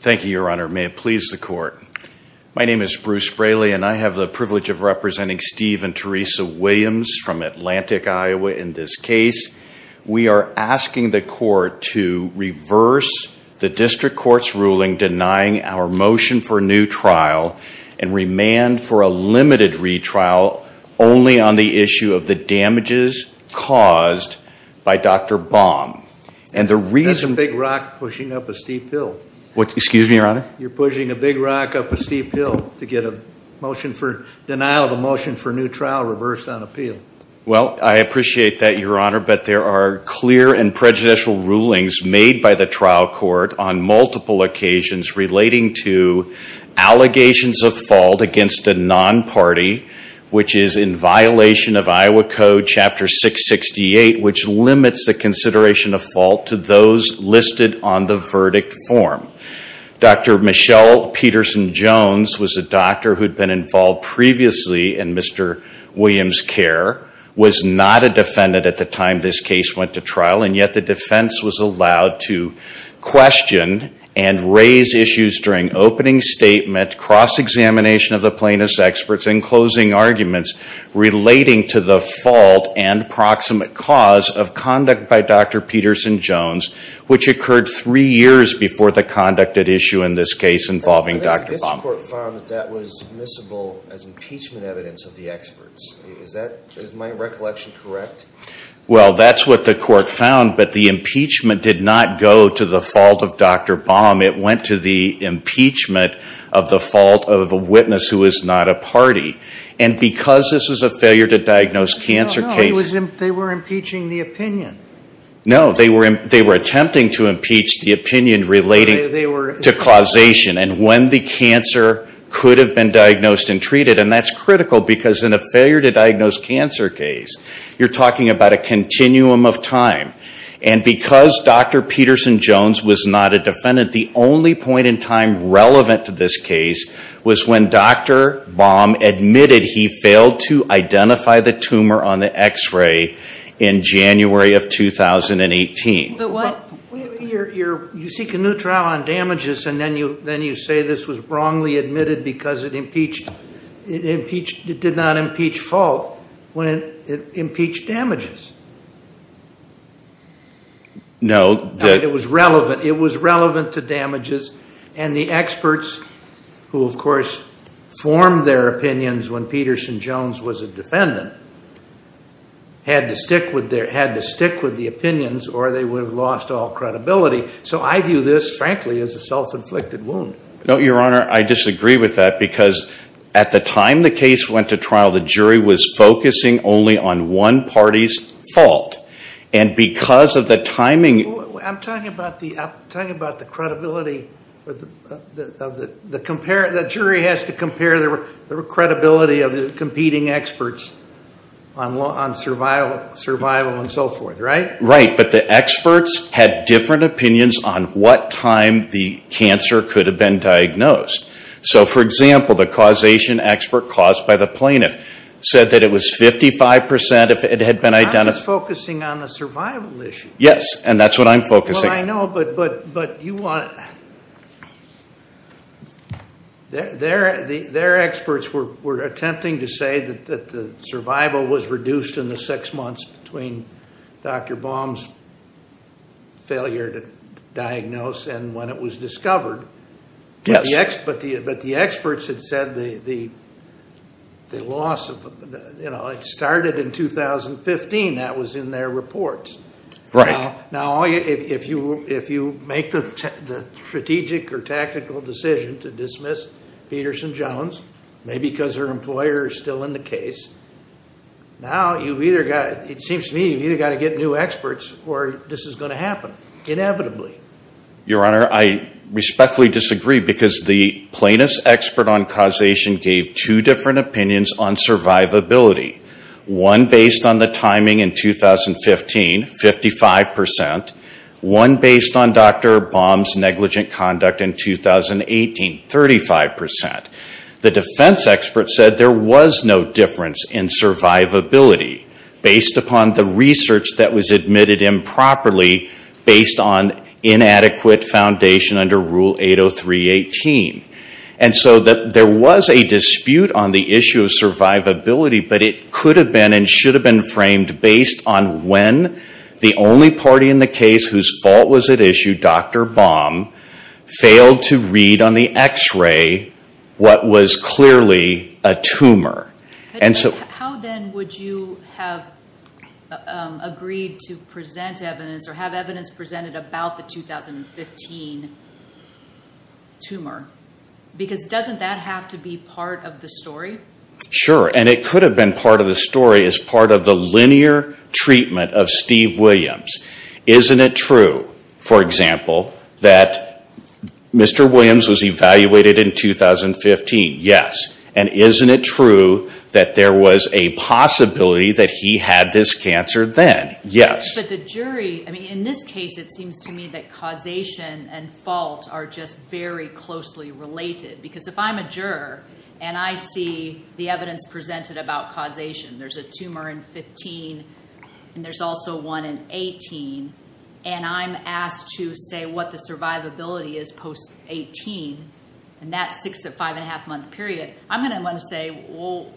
Thank you, your honor. May it please the court. My name is Bruce Braley and I have the privilege of representing Steve and Teresa Williams from Atlantic, Iowa in this case. We are asking the court to reverse the district court's ruling denying our motion for a new trial and remand for a limited retrial only on the issue of the damages caused by Dr. Baum and Justice Breyer That's a big rock pushing up a steep hill. Bruce Braley Excuse me, your honor? Justice Breyer You're pushing a big rock up a steep hill to get a motion for denial of a motion for a new trial reversed on appeal. Bruce Braley Well, I appreciate that, your honor, but there are clear and prejudicial against a non-party which is in violation of Iowa Code Chapter 668 which limits the consideration of fault to those listed on the verdict form. Dr. Michelle Peterson-Jones was a doctor who had been involved previously in Mr. Williams' care, was not a defendant at the time this case went to trial, and yet the defense was allowed to question and raise issues during opening statement, cross-examination of the plaintiff's experts, and closing arguments relating to the fault and proximate cause of conduct by Dr. Peterson-Jones which occurred three years before the conduct at issue in this case involving Dr. Baum. Justice Breyer I think the district court found that that was admissible as impeachment evidence of the experts. Is my recollection correct? Bruce Braley Well, that's what the court found, but the impeachment did not go to the fault of Dr. Baum. It went to the impeachment of the fault of a witness who is not a party. And because this is a failure to diagnose cancer case... Justice Breyer No, no, they were impeaching the opinion. Bruce Braley No, they were attempting to impeach the opinion relating to causation and when the cancer could have been diagnosed and treated. And that's critical because in a failure to diagnose cancer case, you're talking about a continuum of time. And because Dr. Peterson-Jones was not a defendant, the only point in time relevant to this case was when Dr. Baum admitted he failed to identify the tumor on the x-ray in January of 2018. Justice Sotomayor But what... Justice Breyer You seek a new trial on damages and then you say this was wrongly admitted because it impeached, it impeached, it did not impeach fault when it impeached damages. Justice Breyer No, that... Justice Sotomayor It was relevant, it was relevant to damages and the experts who of course formed their opinions when Peterson-Jones was a defendant had to stick with their, had to stick with the opinions or they would have lost all credibility. So I view this frankly as a self-inflicted wound. Justice Breyer No, Your Honor, I disagree with that because at the time the case went to fault and because of the timing... Justice Sotomayor I'm talking about the, I'm talking about the credibility of the, of the, the compare, the jury has to compare the credibility of the competing experts on survival and so forth, right? Justice Breyer Right, but the experts had different opinions on what time the cancer could have been diagnosed. So for example, the causation expert caused by the plaintiff said that it was 55% if it had been identified... Justice Sotomayor I'm not just focusing on the survival issue. Justice Breyer Yes, and that's what I'm focusing on. Justice Sotomayor Well, I know, but, but, but you want... their, their, their experts were, were attempting to say that, that the survival was reduced in the six months between Dr. Baum's failure to diagnose and when it was discovered... Justice Breyer Yes. Justice Sotomayor But the experts, but the, but the experts had said the, the, the loss of the, you know, it started in 2015, that was in their reports. Justice Breyer Right. Justice Sotomayor Now, now all you, if you, if you make the, the strategic or tactical decision to dismiss Peterson-Jones, maybe because her employer is still in the case, now you've either got, it seems to me you've either got to get new experts or this is going to happen, inevitably. Justice Breyer Your Honor, I respectfully disagree because the plaintiff's expert on causation gave two different opinions on survivability. One based on the timing in 2015, 55 percent. One based on Dr. Baum's negligent conduct in 2018, 35 percent. The defense expert said there was no difference in survivability based upon the research that inadequate foundation under Rule 803-18. And so there was a dispute on the issue of survivability, but it could have been and should have been framed based on when the only party in the case whose fault was at issue, Dr. Baum, failed to read on the x-ray what was clearly a tumor. And so... without the 2015 tumor. Because doesn't that have to be part of the story? Justice Breyer Sure, and it could have been part of the story as part of the linear treatment of Steve Williams. Isn't it true, for example, that Mr. Williams was evaluated in 2015? Yes. And isn't it true that there was a possibility that he had this cancer then? Yes. But the jury... I mean, in this case, it seems to me that causation and fault are just very closely related. Because if I'm a juror, and I see the evidence presented about causation, there's a tumor in 2015, and there's also one in 2018, and I'm asked to say what the survivability is post-2018, in that six to five and a half month period, I'm going to want to say, well,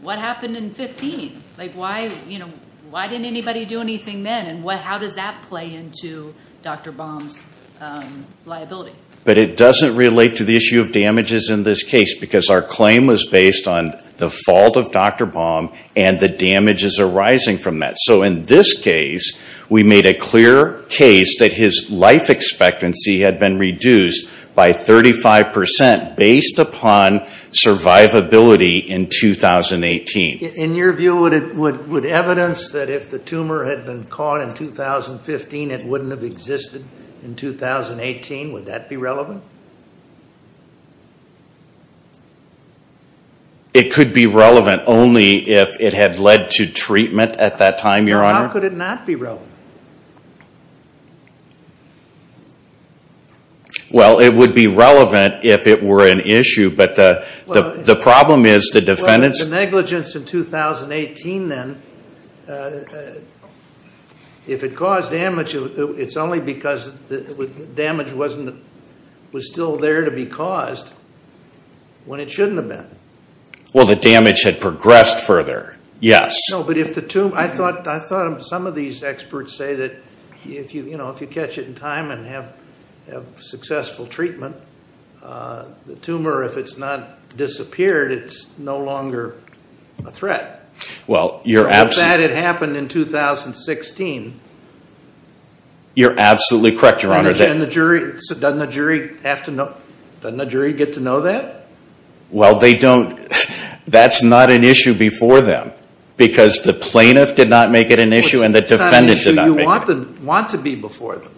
what happened in 2015? Like, why didn't anybody do anything then? And how does that play into Dr. Baum's liability? But it doesn't relate to the issue of damages in this case, because our claim was based on the fault of Dr. Baum and the damages arising from that. So in this case, we made a clear case that his life expectancy had been reduced by 35% based upon survivability in 2018. In your view, would evidence that if the tumor had been caught in 2015, it wouldn't have existed in 2018, would that be relevant? It could be relevant only if it had led to treatment at that time, Your Honor. How could it not be relevant? Well, it would be relevant if it were an issue, but the problem is the defendants... If it was in 2018 then, if it caused damage, it's only because the damage was still there to be caused when it shouldn't have been. Well, the damage had progressed further, yes. No, but if the tumor... I thought some of these experts say that if you catch it in time and have successful treatment, the tumor, if it's not disappeared, it's no longer a threat. Well, you're absolutely... So if that had happened in 2016... You're absolutely correct, Your Honor. And the jury... Doesn't the jury have to know... Doesn't the jury get to know that? Well, they don't... That's not an issue before them, because the plaintiff did not make it an issue and the defendant did not make it an issue. What's the kind of issue you want to be before them?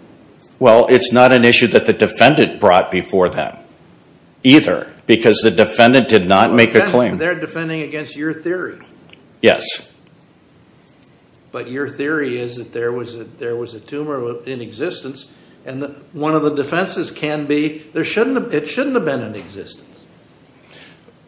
Well, it's not an issue that the defendant brought before them either, because the defendant did not make a claim. They're defending against your theory. Yes. But your theory is that there was a tumor in existence and one of the defenses can be there shouldn't have... It shouldn't have been in existence.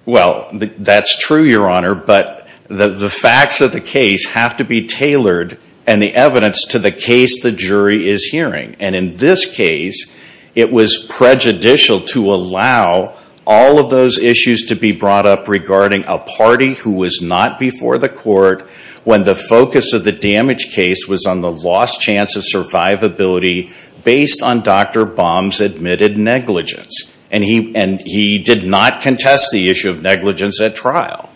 Well, that's true, Your Honor, but the facts of the case have to be tailored and the evidence to the case the jury is hearing. And in this case, it was prejudicial to allow all of those issues to be brought up regarding a party who was not before the court when the focus of the damage case was on the lost chance of survivability based on Dr. Baum's admitted negligence. And he did not contest the issue of negligence at trial.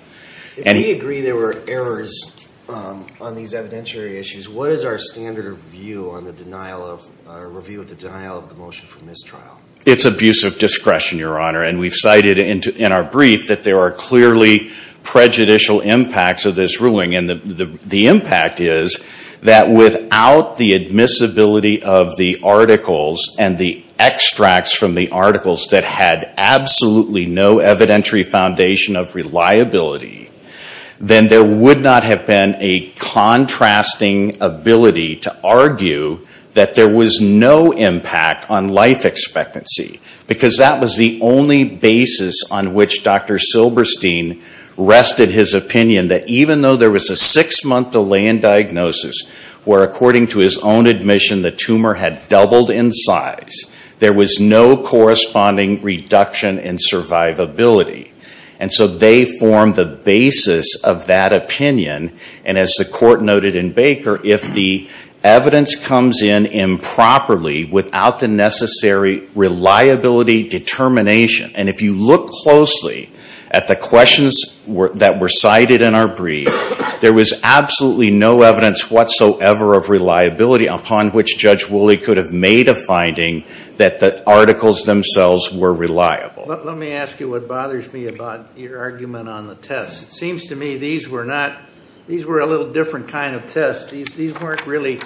If we agree there were errors on these evidentiary issues, what is our standard of view on the denial of, review of the denial of the motion for mistrial? It's abuse of discretion, Your Honor, and we've cited in our brief that there are clearly prejudicial impacts of this ruling. And the impact is that without the admissibility of the articles and the extracts from the ability, then there would not have been a contrasting ability to argue that there was no impact on life expectancy. Because that was the only basis on which Dr. Silberstein rested his opinion that even though there was a six-month delay in diagnosis, where according to his own admission the tumor had doubled in size, there was no corresponding reduction in survivability. And so they formed the basis of that opinion. And as the court noted in Baker, if the evidence comes in improperly without the necessary reliability determination, and if you look closely at the questions that were cited in our brief, there was absolutely no evidence whatsoever of reliability upon which Judge Woolley could have made a finding that the articles themselves were reliable. Let me ask you what bothers me about your argument on the tests. It seems to me these were not, these were a little different kind of tests. These weren't really,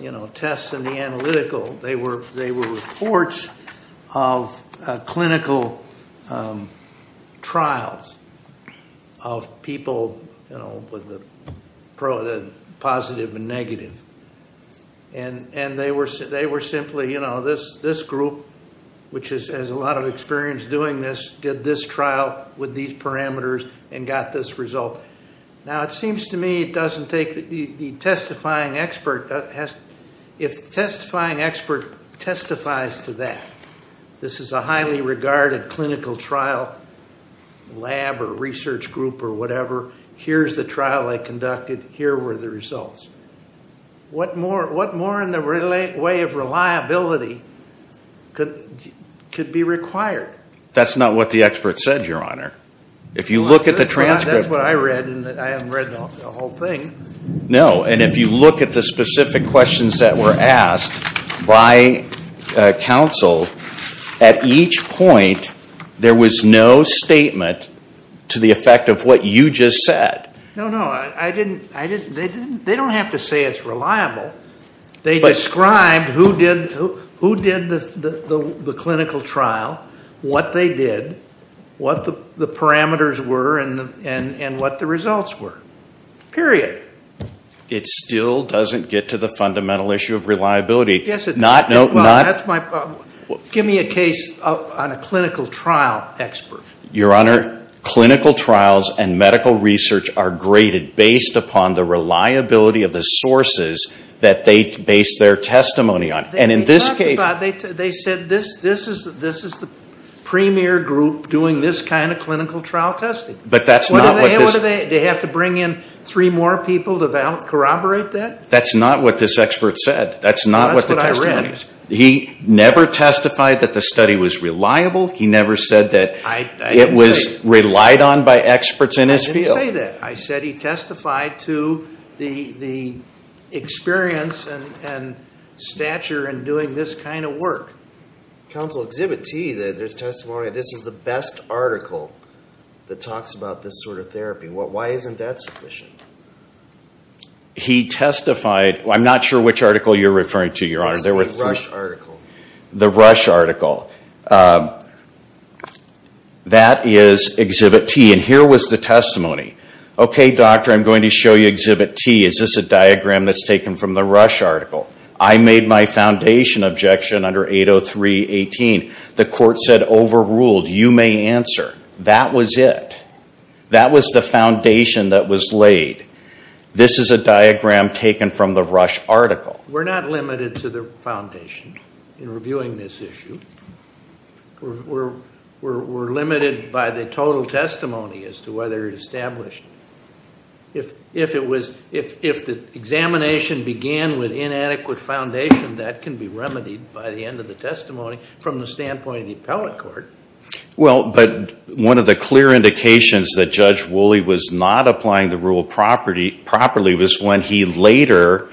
you know, tests in the analytical. They were reports of clinical trials of people, you know, with the positive and negative. And they were simply, you know, this group, which has a lot of experience doing this, did this trial with these parameters and got this result. Now it seems to me it doesn't take, the testifying expert, if the testifying expert testifies to that, this is a highly regarded clinical trial, lab or research group or whatever, here's the trial they conducted, here were the results. What more in the way of reliability could be required? That's not what the expert said, Your Honor. If you look at the transcript. That's what I read. I haven't read the whole thing. No, and if you look at the specific questions that were asked by counsel, at each point there was no statement to the effect of what you just said. No, no. I didn't, they don't have to say it's reliable. They described who did the clinical trial, what they did, what the parameters were, and what the results were, period. It still doesn't get to the fundamental issue of reliability. Yes, it does. Well, that's my problem. Give me a case on a clinical trial expert. Your Honor, clinical trials and medical research are graded based upon the reliability of the sources that they base their testimony on. And in this case. They talked about, they said this is the premier group doing this kind of clinical trial testing. But that's not what this. What do they, do they have to bring in three more people to corroborate that? That's not what this expert said. That's not what the testimony is. Well, that's what I read. He never testified that the study was reliable. He never said that it was relied on by experts in his field. I didn't say that. I said he testified to the experience and stature in doing this kind of work. Counsel Exhibit T, there's testimony, this is the best article that talks about this sort of therapy. Why isn't that sufficient? He testified, I'm not sure which article you're referring to, Your Honor. It's the Rush article. The Rush article. That is Exhibit T. And here was the testimony. Okay, doctor, I'm going to show you Exhibit T. Is this a diagram that's taken from the Rush article? I made my foundation objection under 803.18. The court said overruled. You may answer. That was it. That was the foundation that was laid. This is a diagram taken from the Rush article. We're not limited to the foundation in reviewing this issue. We're limited by the total testimony as to whether it established. If the examination began with inadequate foundation, that can be remedied by the end of the testimony from the standpoint of the appellate court. Well, but one of the clear indications that Judge Woolley was not applying the rule properly was when he later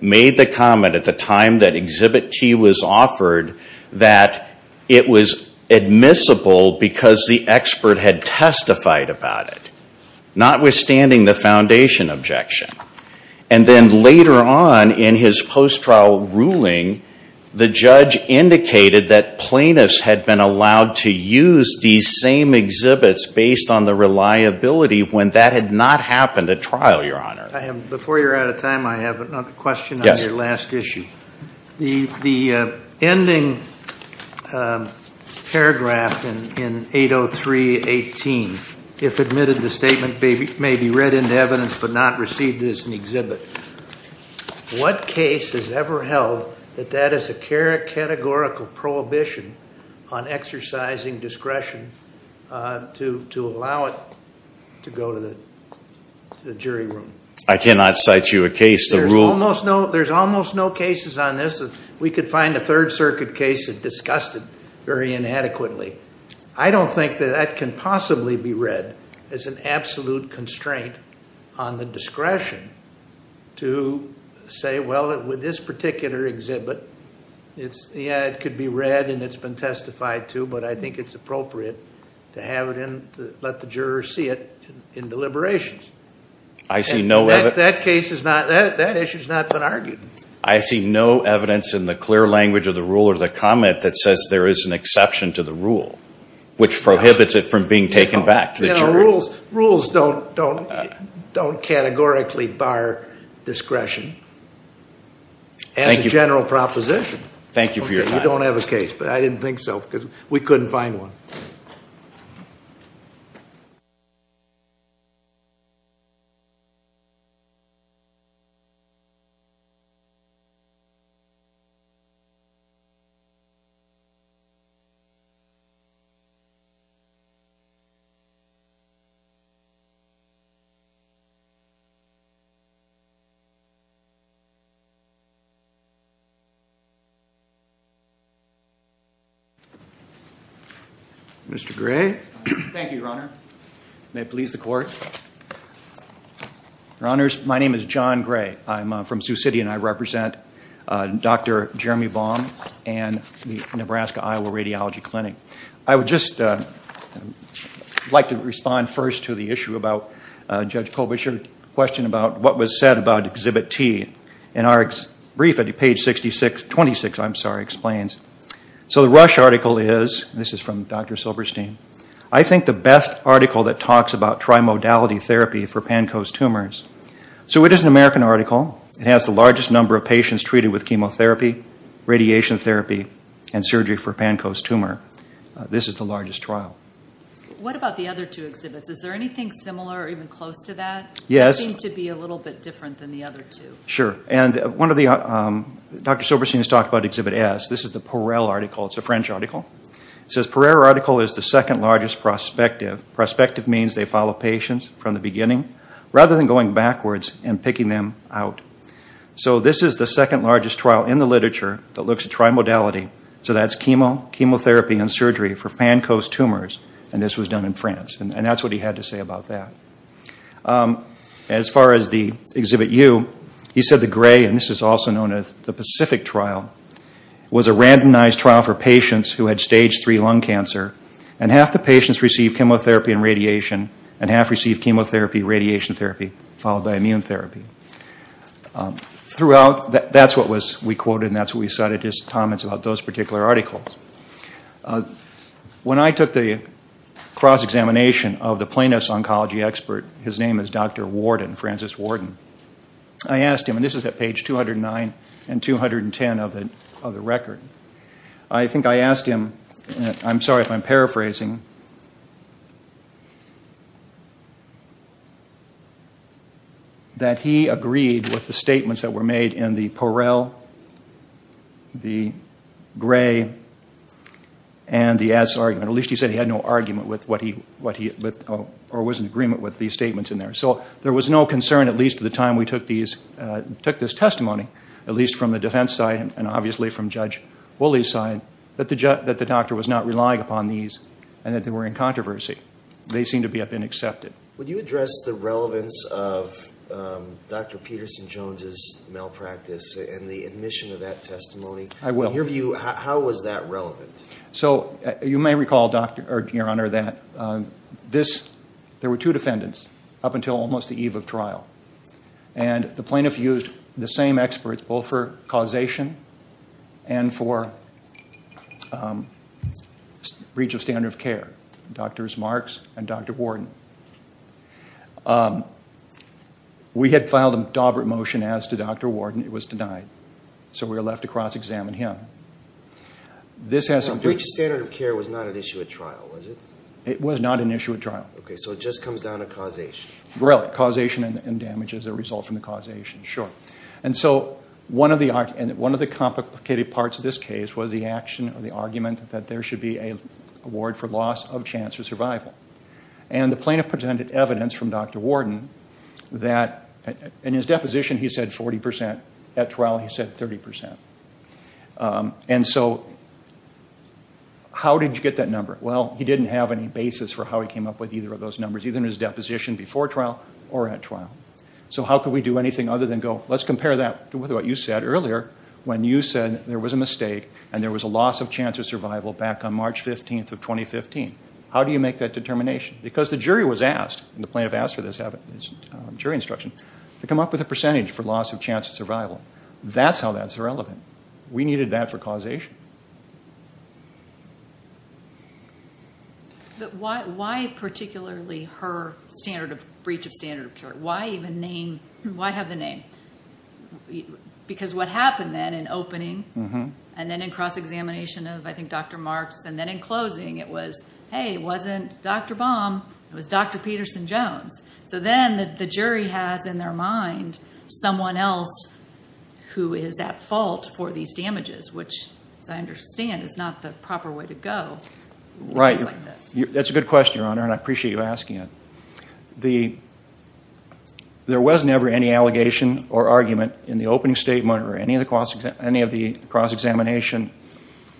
made the comment at the time that Exhibit T was offered that it was admissible because the expert had testified about it, notwithstanding the foundation objection. And then later on in his post-trial ruling, the judge indicated that plaintiffs had been allowed to use these same exhibits based on the reliability when that had not happened at trial, Your Honor. Before you're out of time, I have another question on your last issue. The ending paragraph in 803.18, if admitted, the statement may be read into evidence but not received as an exhibit. What case has ever held that that is a categorical prohibition on exercising discretion to allow it to go to the jury room? I cannot cite you a case. There's almost no cases on this. We could find a Third Circuit case that discussed it very inadequately. I don't think that that can possibly be read as an absolute constraint on the discretion to say, well, with this particular exhibit, yeah, it could be read and it's been testified to but I think it's appropriate to have it and let the jurors see it in deliberations. I see no evidence. That case is not, that issue has not been argued. I see no evidence in the clear language of the rule or the comment that says there is an exception to the rule, which prohibits it from being taken back to the jury. Rules don't categorically bar discretion as a general proposition. Thank you for your time. We don't have a case but I didn't think so because we couldn't find one. Mr. Gray. Thank you, Your Honor. May it please the court. Your Honors, my name is John Gray. I'm from Sioux City and I represent Dr. Jeremy Baum and the Nebraska-Iowa Radiology Clinic. I would just like to respond first to the issue about Judge Colbert's question about what was said about Exhibit T. In our brief at page 26, I'm sorry, explains, so the Rush article is, this is from Dr. Silberstein, I think the best article that talks about So it is an American article. It has the largest number of patients treated with chemotherapy, radiation therapy, and surgery for Pankow's tumor. This is the largest trial. What about the other two exhibits? Is there anything similar or even close to that? Yes. That seem to be a little bit different than the other two. Sure. And one of the, Dr. Silberstein has talked about Exhibit S. This is the Porel article. It's a French article. Porel article is the second largest prospective. Prospective means they follow patients from the beginning. Rather than going backwards and picking them out. So this is the second largest trial in the literature that looks at trimodality. So that's chemotherapy and surgery for Pankow's tumors. And this was done in France. And that's what he had to say about that. As far as the Exhibit U, he said the gray, and this is also known as the Pacific trial, was a randomized trial for patients who had stage III lung cancer. And half the patients received chemotherapy and radiation. And half received chemotherapy, radiation therapy, followed by immune therapy. Throughout, that's what we quoted and that's what we cited. Just comments about those particular articles. When I took the cross-examination of the plaintiff's oncology expert, his name is Dr. Warden, Francis Warden. I asked him, and this is at page 209 and 210 of the record. I think I asked him, and I'm sorry if I'm paraphrasing, that he agreed with the statements that were made in the Porel, the gray, and the S argument. At least he said he had no argument with what he, or was in agreement with these statements in there. So there was no concern, at least at the time we took this testimony, at least from the defense side and obviously from Judge Woolley's side, that the doctor was not relying upon these and that they were in controversy. They seem to have been accepted. Would you address the relevance of Dr. Peterson-Jones' malpractice and the admission of that testimony? I will. In your view, how was that relevant? So, you may recall, Your Honor, that there were two defendants up until almost the eve of trial. And the plaintiff used the same experts, both for causation and for breach of standard of care, Drs. Marks and Dr. Warden. We had filed a Daubert motion as to Dr. Warden. It was denied. So we were left to cross-examine him. Now, breach of standard of care was not an issue at trial, was it? It was not an issue at trial. Okay, so it just comes down to causation. Really? Causation and damage as a result from the causation. Sure. And so, one of the complicated parts of this case was the action or the argument that there should be an award for loss of chance of survival. And the plaintiff presented evidence from Dr. Warden that in his deposition he said 40%. At trial he said 30%. And so, how did you get that number? Well, he didn't have any basis for how he came up with either of those numbers, either in his deposition before trial or at trial. So how could we do anything other than go, let's compare that to what you said earlier when you said there was a mistake and there was a loss of chance of survival back on March 15th of 2015. How do you make that determination? Because the jury was asked, and the plaintiff asked for this jury instruction, to come up with a percentage for loss of chance of survival. That's how that's irrelevant. We needed that for causation. But why particularly her standard of, breach of standard of care? Why even name, why have the name? Because what happened then in opening, and then in cross-examination of, I think, Dr. Marks, and then in closing it was, hey, it wasn't Dr. Baum, it was Dr. Peterson-Jones. So then the jury has in their mind someone else who is at fault for these damages, which, as I understand, is not the proper way to go in a case like this. Right. That's a good question, Your Honor, and I appreciate you asking it. There was never any allegation or argument in the opening statement or any of the cross-examination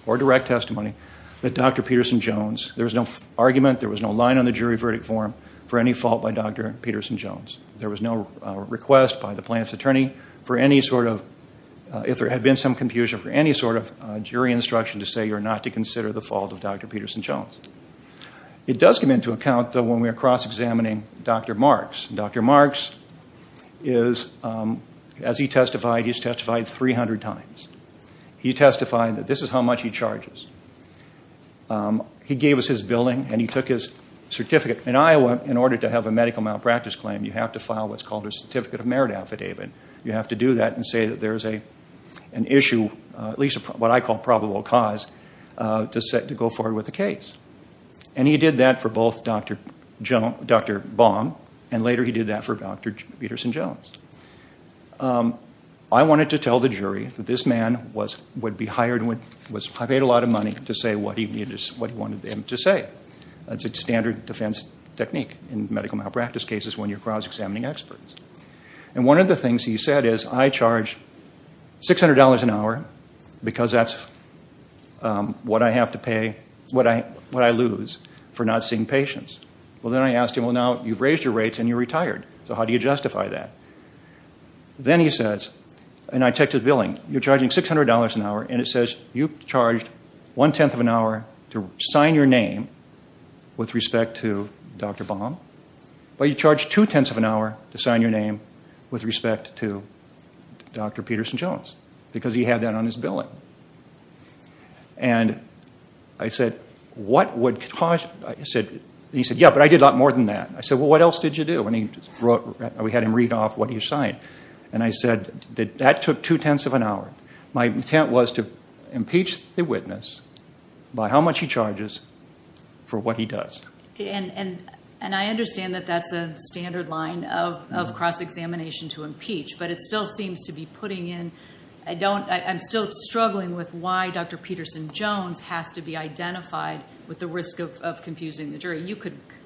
or direct testimony that Dr. Peterson-Jones, there was no argument, there was no line on the jury verdict form for any fault by Dr. Peterson-Jones. There was no request by the plaintiff's attorney for any sort of, if there had been some confusion, for any sort of jury instruction to say you're not to consider the fault of Dr. Peterson-Jones. It does come into account, though, when we are cross-examining Dr. Marks. Dr. Marks is, as he testified, he's testified 300 times. He testified that this is how much he charges. He gave us his billing and he took his certificate. In Iowa, in order to have a medical malpractice claim, you have to file what's called a certificate of merit affidavit. You have to do that and say that there's an issue, at least what I call probable cause, to go forward with the case. And he did that for both Dr. Baum and later he did that for Dr. Peterson-Jones. I wanted to tell the jury that this man would be hired, I paid a lot of money to say what he wanted them to say. That's a standard defense technique in medical malpractice cases when you're cross-examining experts. And one of the things he said is, I charge $600 an hour because that's what I have to pay, what I lose for not seeing patients. Well, then I asked him, well, now you've raised your rates and you're retired, so how do you justify that? Then he says, and I checked his billing, you're charging $600 an hour and it says you've charged one-tenth of an hour to sign your name with respect to Dr. Baum, but you charge two-tenths of an hour to sign your name with respect to Dr. Peterson-Jones because he had that on his billing. And I said, what would cause... He said, yeah, but I did a lot more than that. I said, well, what else did you do? And we had him read off what he assigned. And I said that that took two-tenths of an hour. My intent was to impeach the witness by how much he charges for what he does. And I understand that that's a standard line of cross-examination to impeach, but it still seems to be putting in... I'm still struggling with why Dr. Peterson-Jones has to be identified with the risk of confusing the jury.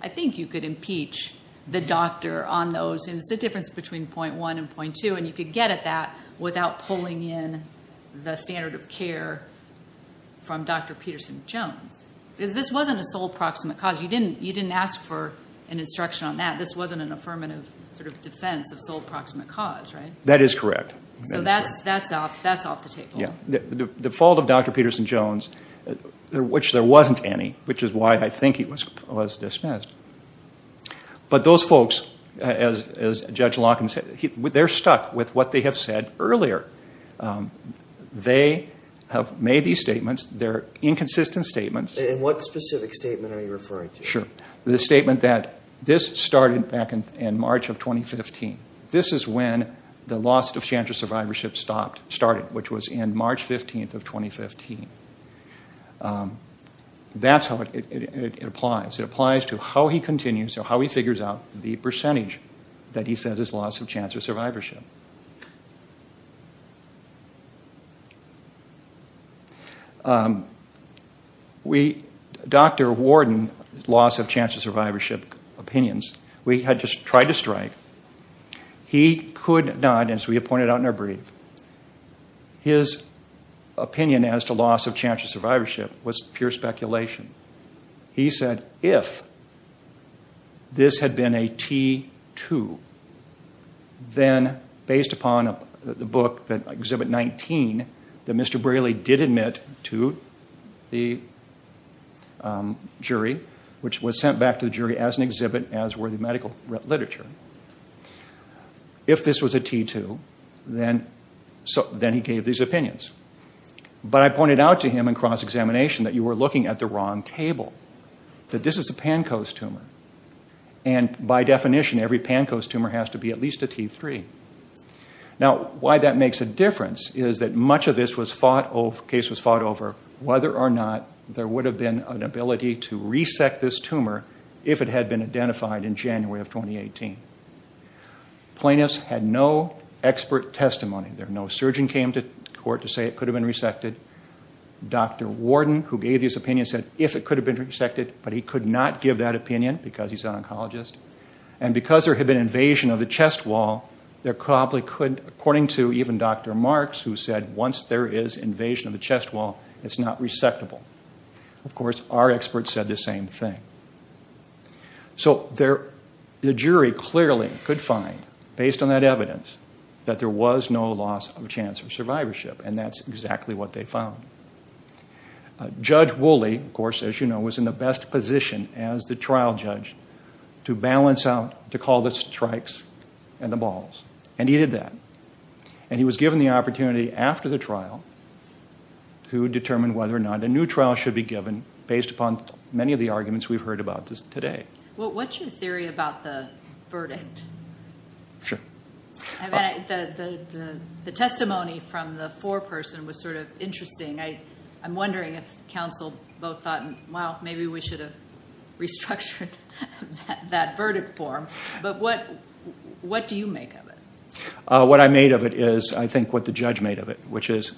I think you could impeach the doctor on those, and it's the difference between .1 and .2, and you could get at that without pulling in the standard of care from Dr. Peterson-Jones. This wasn't a sole proximate cause. You didn't ask for an instruction on that. This wasn't an affirmative sort of defense of sole proximate cause, right? That is correct. So that's off the table. Yeah. The fault of Dr. Peterson-Jones, which there wasn't any, which is why I think he was dismissed. But those folks, as Judge Locken said, they're stuck with what they have said earlier. They have made these statements. They're inconsistent statements. And what specific statement are you referring to? Sure. The statement that this started back in March of 2015. This is when the loss of chance of survivorship started, which was in March 15th of 2015. That's how it applies. It applies to how he continues, or how he figures out the percentage that he says is loss of chance of survivorship. We... Dr. Warden's loss of chance of survivorship opinions, we had just tried to strike. He could not, as we had pointed out in our brief. His opinion as to loss of chance of survivorship was pure speculation. He said, if this had been a T-2, then the loss of chance of survivorship based upon the book, Exhibit 19, that Mr. Braley did admit to the jury, which was sent back to the jury as an exhibit, as were the medical literature. If this was a T-2, then he gave these opinions. But I pointed out to him in cross-examination that you were looking at the wrong table, that this is a Pankos tumor. And by definition, every Pankos tumor has to be at least a T-3. Now, why that makes a difference is that much of this case was fought over whether or not there would have been an ability to resect this tumor if it had been identified in January of 2018. Plaintiffs had no expert testimony. No surgeon came to court to say it could have been resected. Dr. Warden, who gave his opinion, said if it could have been resected, but he could not give that opinion because he's an oncologist. And because there had been invasion of the chest wall, there probably couldn't... According to even Dr. Marks, who said, once there is invasion of the chest wall, it's not resectable. Of course, our experts said the same thing. So the jury clearly could find, based on that evidence, that there was no loss of chance of survivorship, and that's exactly what they found. Judge Woolley, of course, as you know, was in the best position as the trial judge to balance out, to call the strikes and the balls. And he did that. And he was given the opportunity after the trial to determine whether or not a new trial should be given based upon many of the arguments we've heard about today. Well, what's your theory about the verdict? Sure. I mean, the testimony from the foreperson was sort of interesting. I'm wondering if counsel both thought, well, maybe we should have restructured that verdict form. But what do you make of it? What I made of it is, I think, what the judge made of it, which is...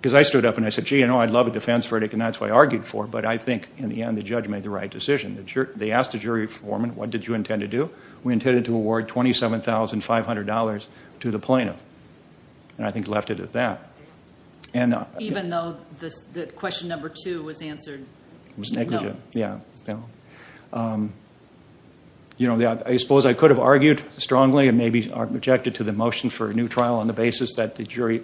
Because I stood up and I said, gee, I'd love a defense verdict, and that's what I argued for. But I think, in the end, the judge made the right decision. They asked the jury foreman, what did you intend to do? We intended to award $27,500 to the plaintiff. And I think left it at that. Even though the question number 2 was answered... It was negligent. Yeah. You know, I suppose I could have argued strongly and maybe objected to the motion for a new trial on the basis that the jury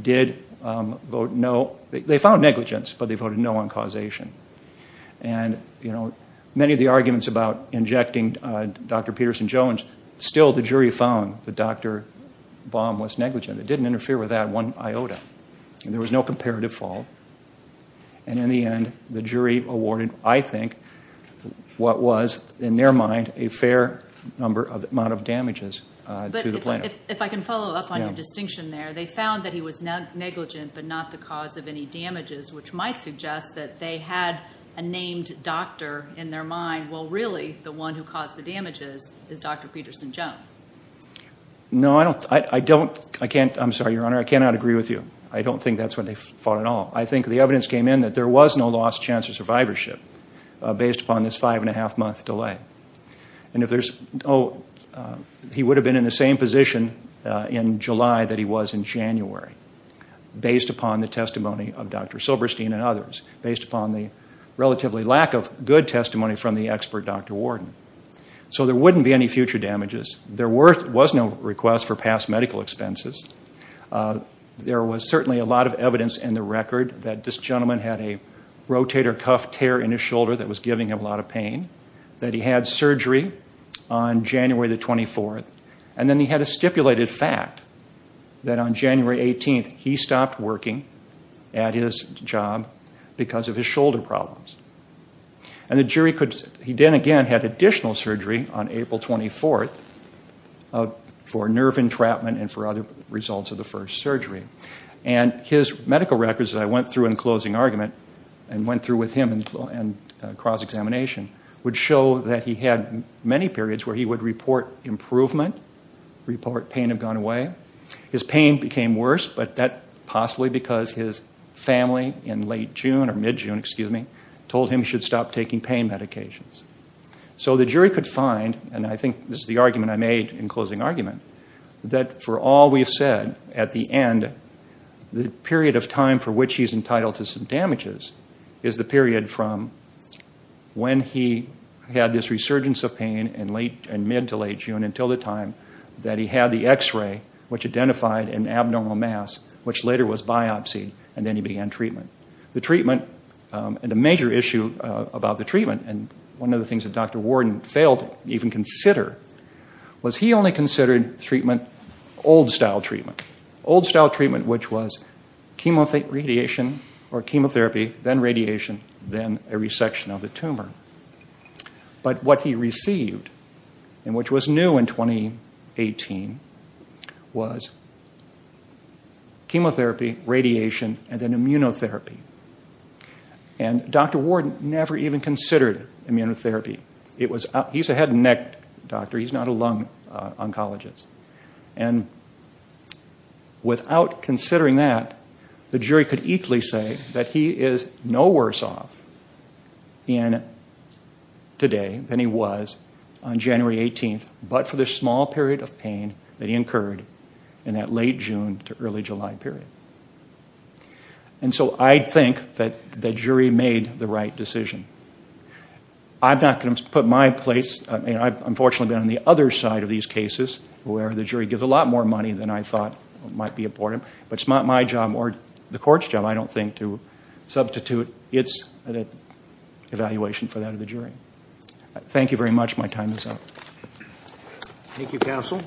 did vote no. They found negligence, but they voted no on causation. And, you know, many of the arguments about injecting Dr Peterson-Jones, still the jury found that Dr Baum was negligent. It didn't interfere with that one iota. There was no comparative fault. And in the end, the jury awarded, I think, what was, in their mind, a fair amount of damages to the plaintiff. But if I can follow up on your distinction there, they found that he was negligent, but not the cause of any damages, which might suggest that they had a named doctor in their mind. Well, really, the one who caused the damages is Dr Peterson-Jones. No, I don't... I can't... I'm sorry, Your Honor, I cannot agree with you. I don't think that's what they thought at all. I think the evidence came in that there was no lost chance of survivorship based upon this 5 1⁄2-month delay. And if there's... Oh, he would have been in the same position in July that he was in January, based upon the testimony of Dr Silberstein and others, based upon the relatively lack of good testimony from the expert Dr Warden. So there wouldn't be any future damages. There was no request for past medical expenses. There was certainly a lot of evidence in the record that this gentleman had a rotator cuff tear in his shoulder that was giving him a lot of pain, that he had surgery on January the 24th, and then he had a stipulated fact that on January 18th he stopped working at his job because of his shoulder problems. And the jury could... He then again had additional surgery on April 24th for nerve entrapment and for other results of the first surgery. And his medical records that I went through in closing argument and went through with him in cross-examination would show that he had many periods where he would report improvement, report pain had gone away. His pain became worse, but that possibly because his family in late June, or mid-June, excuse me, told him he should stop taking pain medications. So the jury could find, and I think this is the argument I made in closing argument, that for all we've said, at the end, the period of time for which he's entitled to some damages is the period from when he had this resurgence of pain in mid to late June, until the time that he had the X-ray, which identified an abnormal mass, which later was biopsy, and then he began treatment. The treatment, and the major issue about the treatment, and one of the things that Dr. Warden failed to even consider, was he only considered treatment, old-style treatment. Old-style treatment, which was chemotherapy, then radiation, then a resection of the tumor. But what he received, and which was new in 2018, was chemotherapy, radiation, and then immunotherapy. And Dr. Warden never even considered immunotherapy. He's a head and neck doctor, he's not a lung oncologist. And without considering that, the jury could equally say that he is no worse off today than he was on January 18th, but for the small period of pain that he incurred in that late-June to early-July period. And so I think that the jury made the right decision. I'm not going to put my place, and I've unfortunately been on the other side of these cases, where the jury gives a lot more money than I thought might be important, but it's not my job, or the court's job, I don't think, to substitute its evaluation for that of the jury. Thank you very much, my time is up. Thank you, counsel.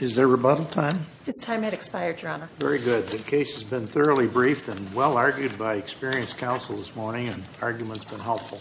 Is there rebuttal time? His time had expired, Your Honor. Very good, the case has been thoroughly briefed and well-argued by experienced counsel this morning, and the argument's been helpful.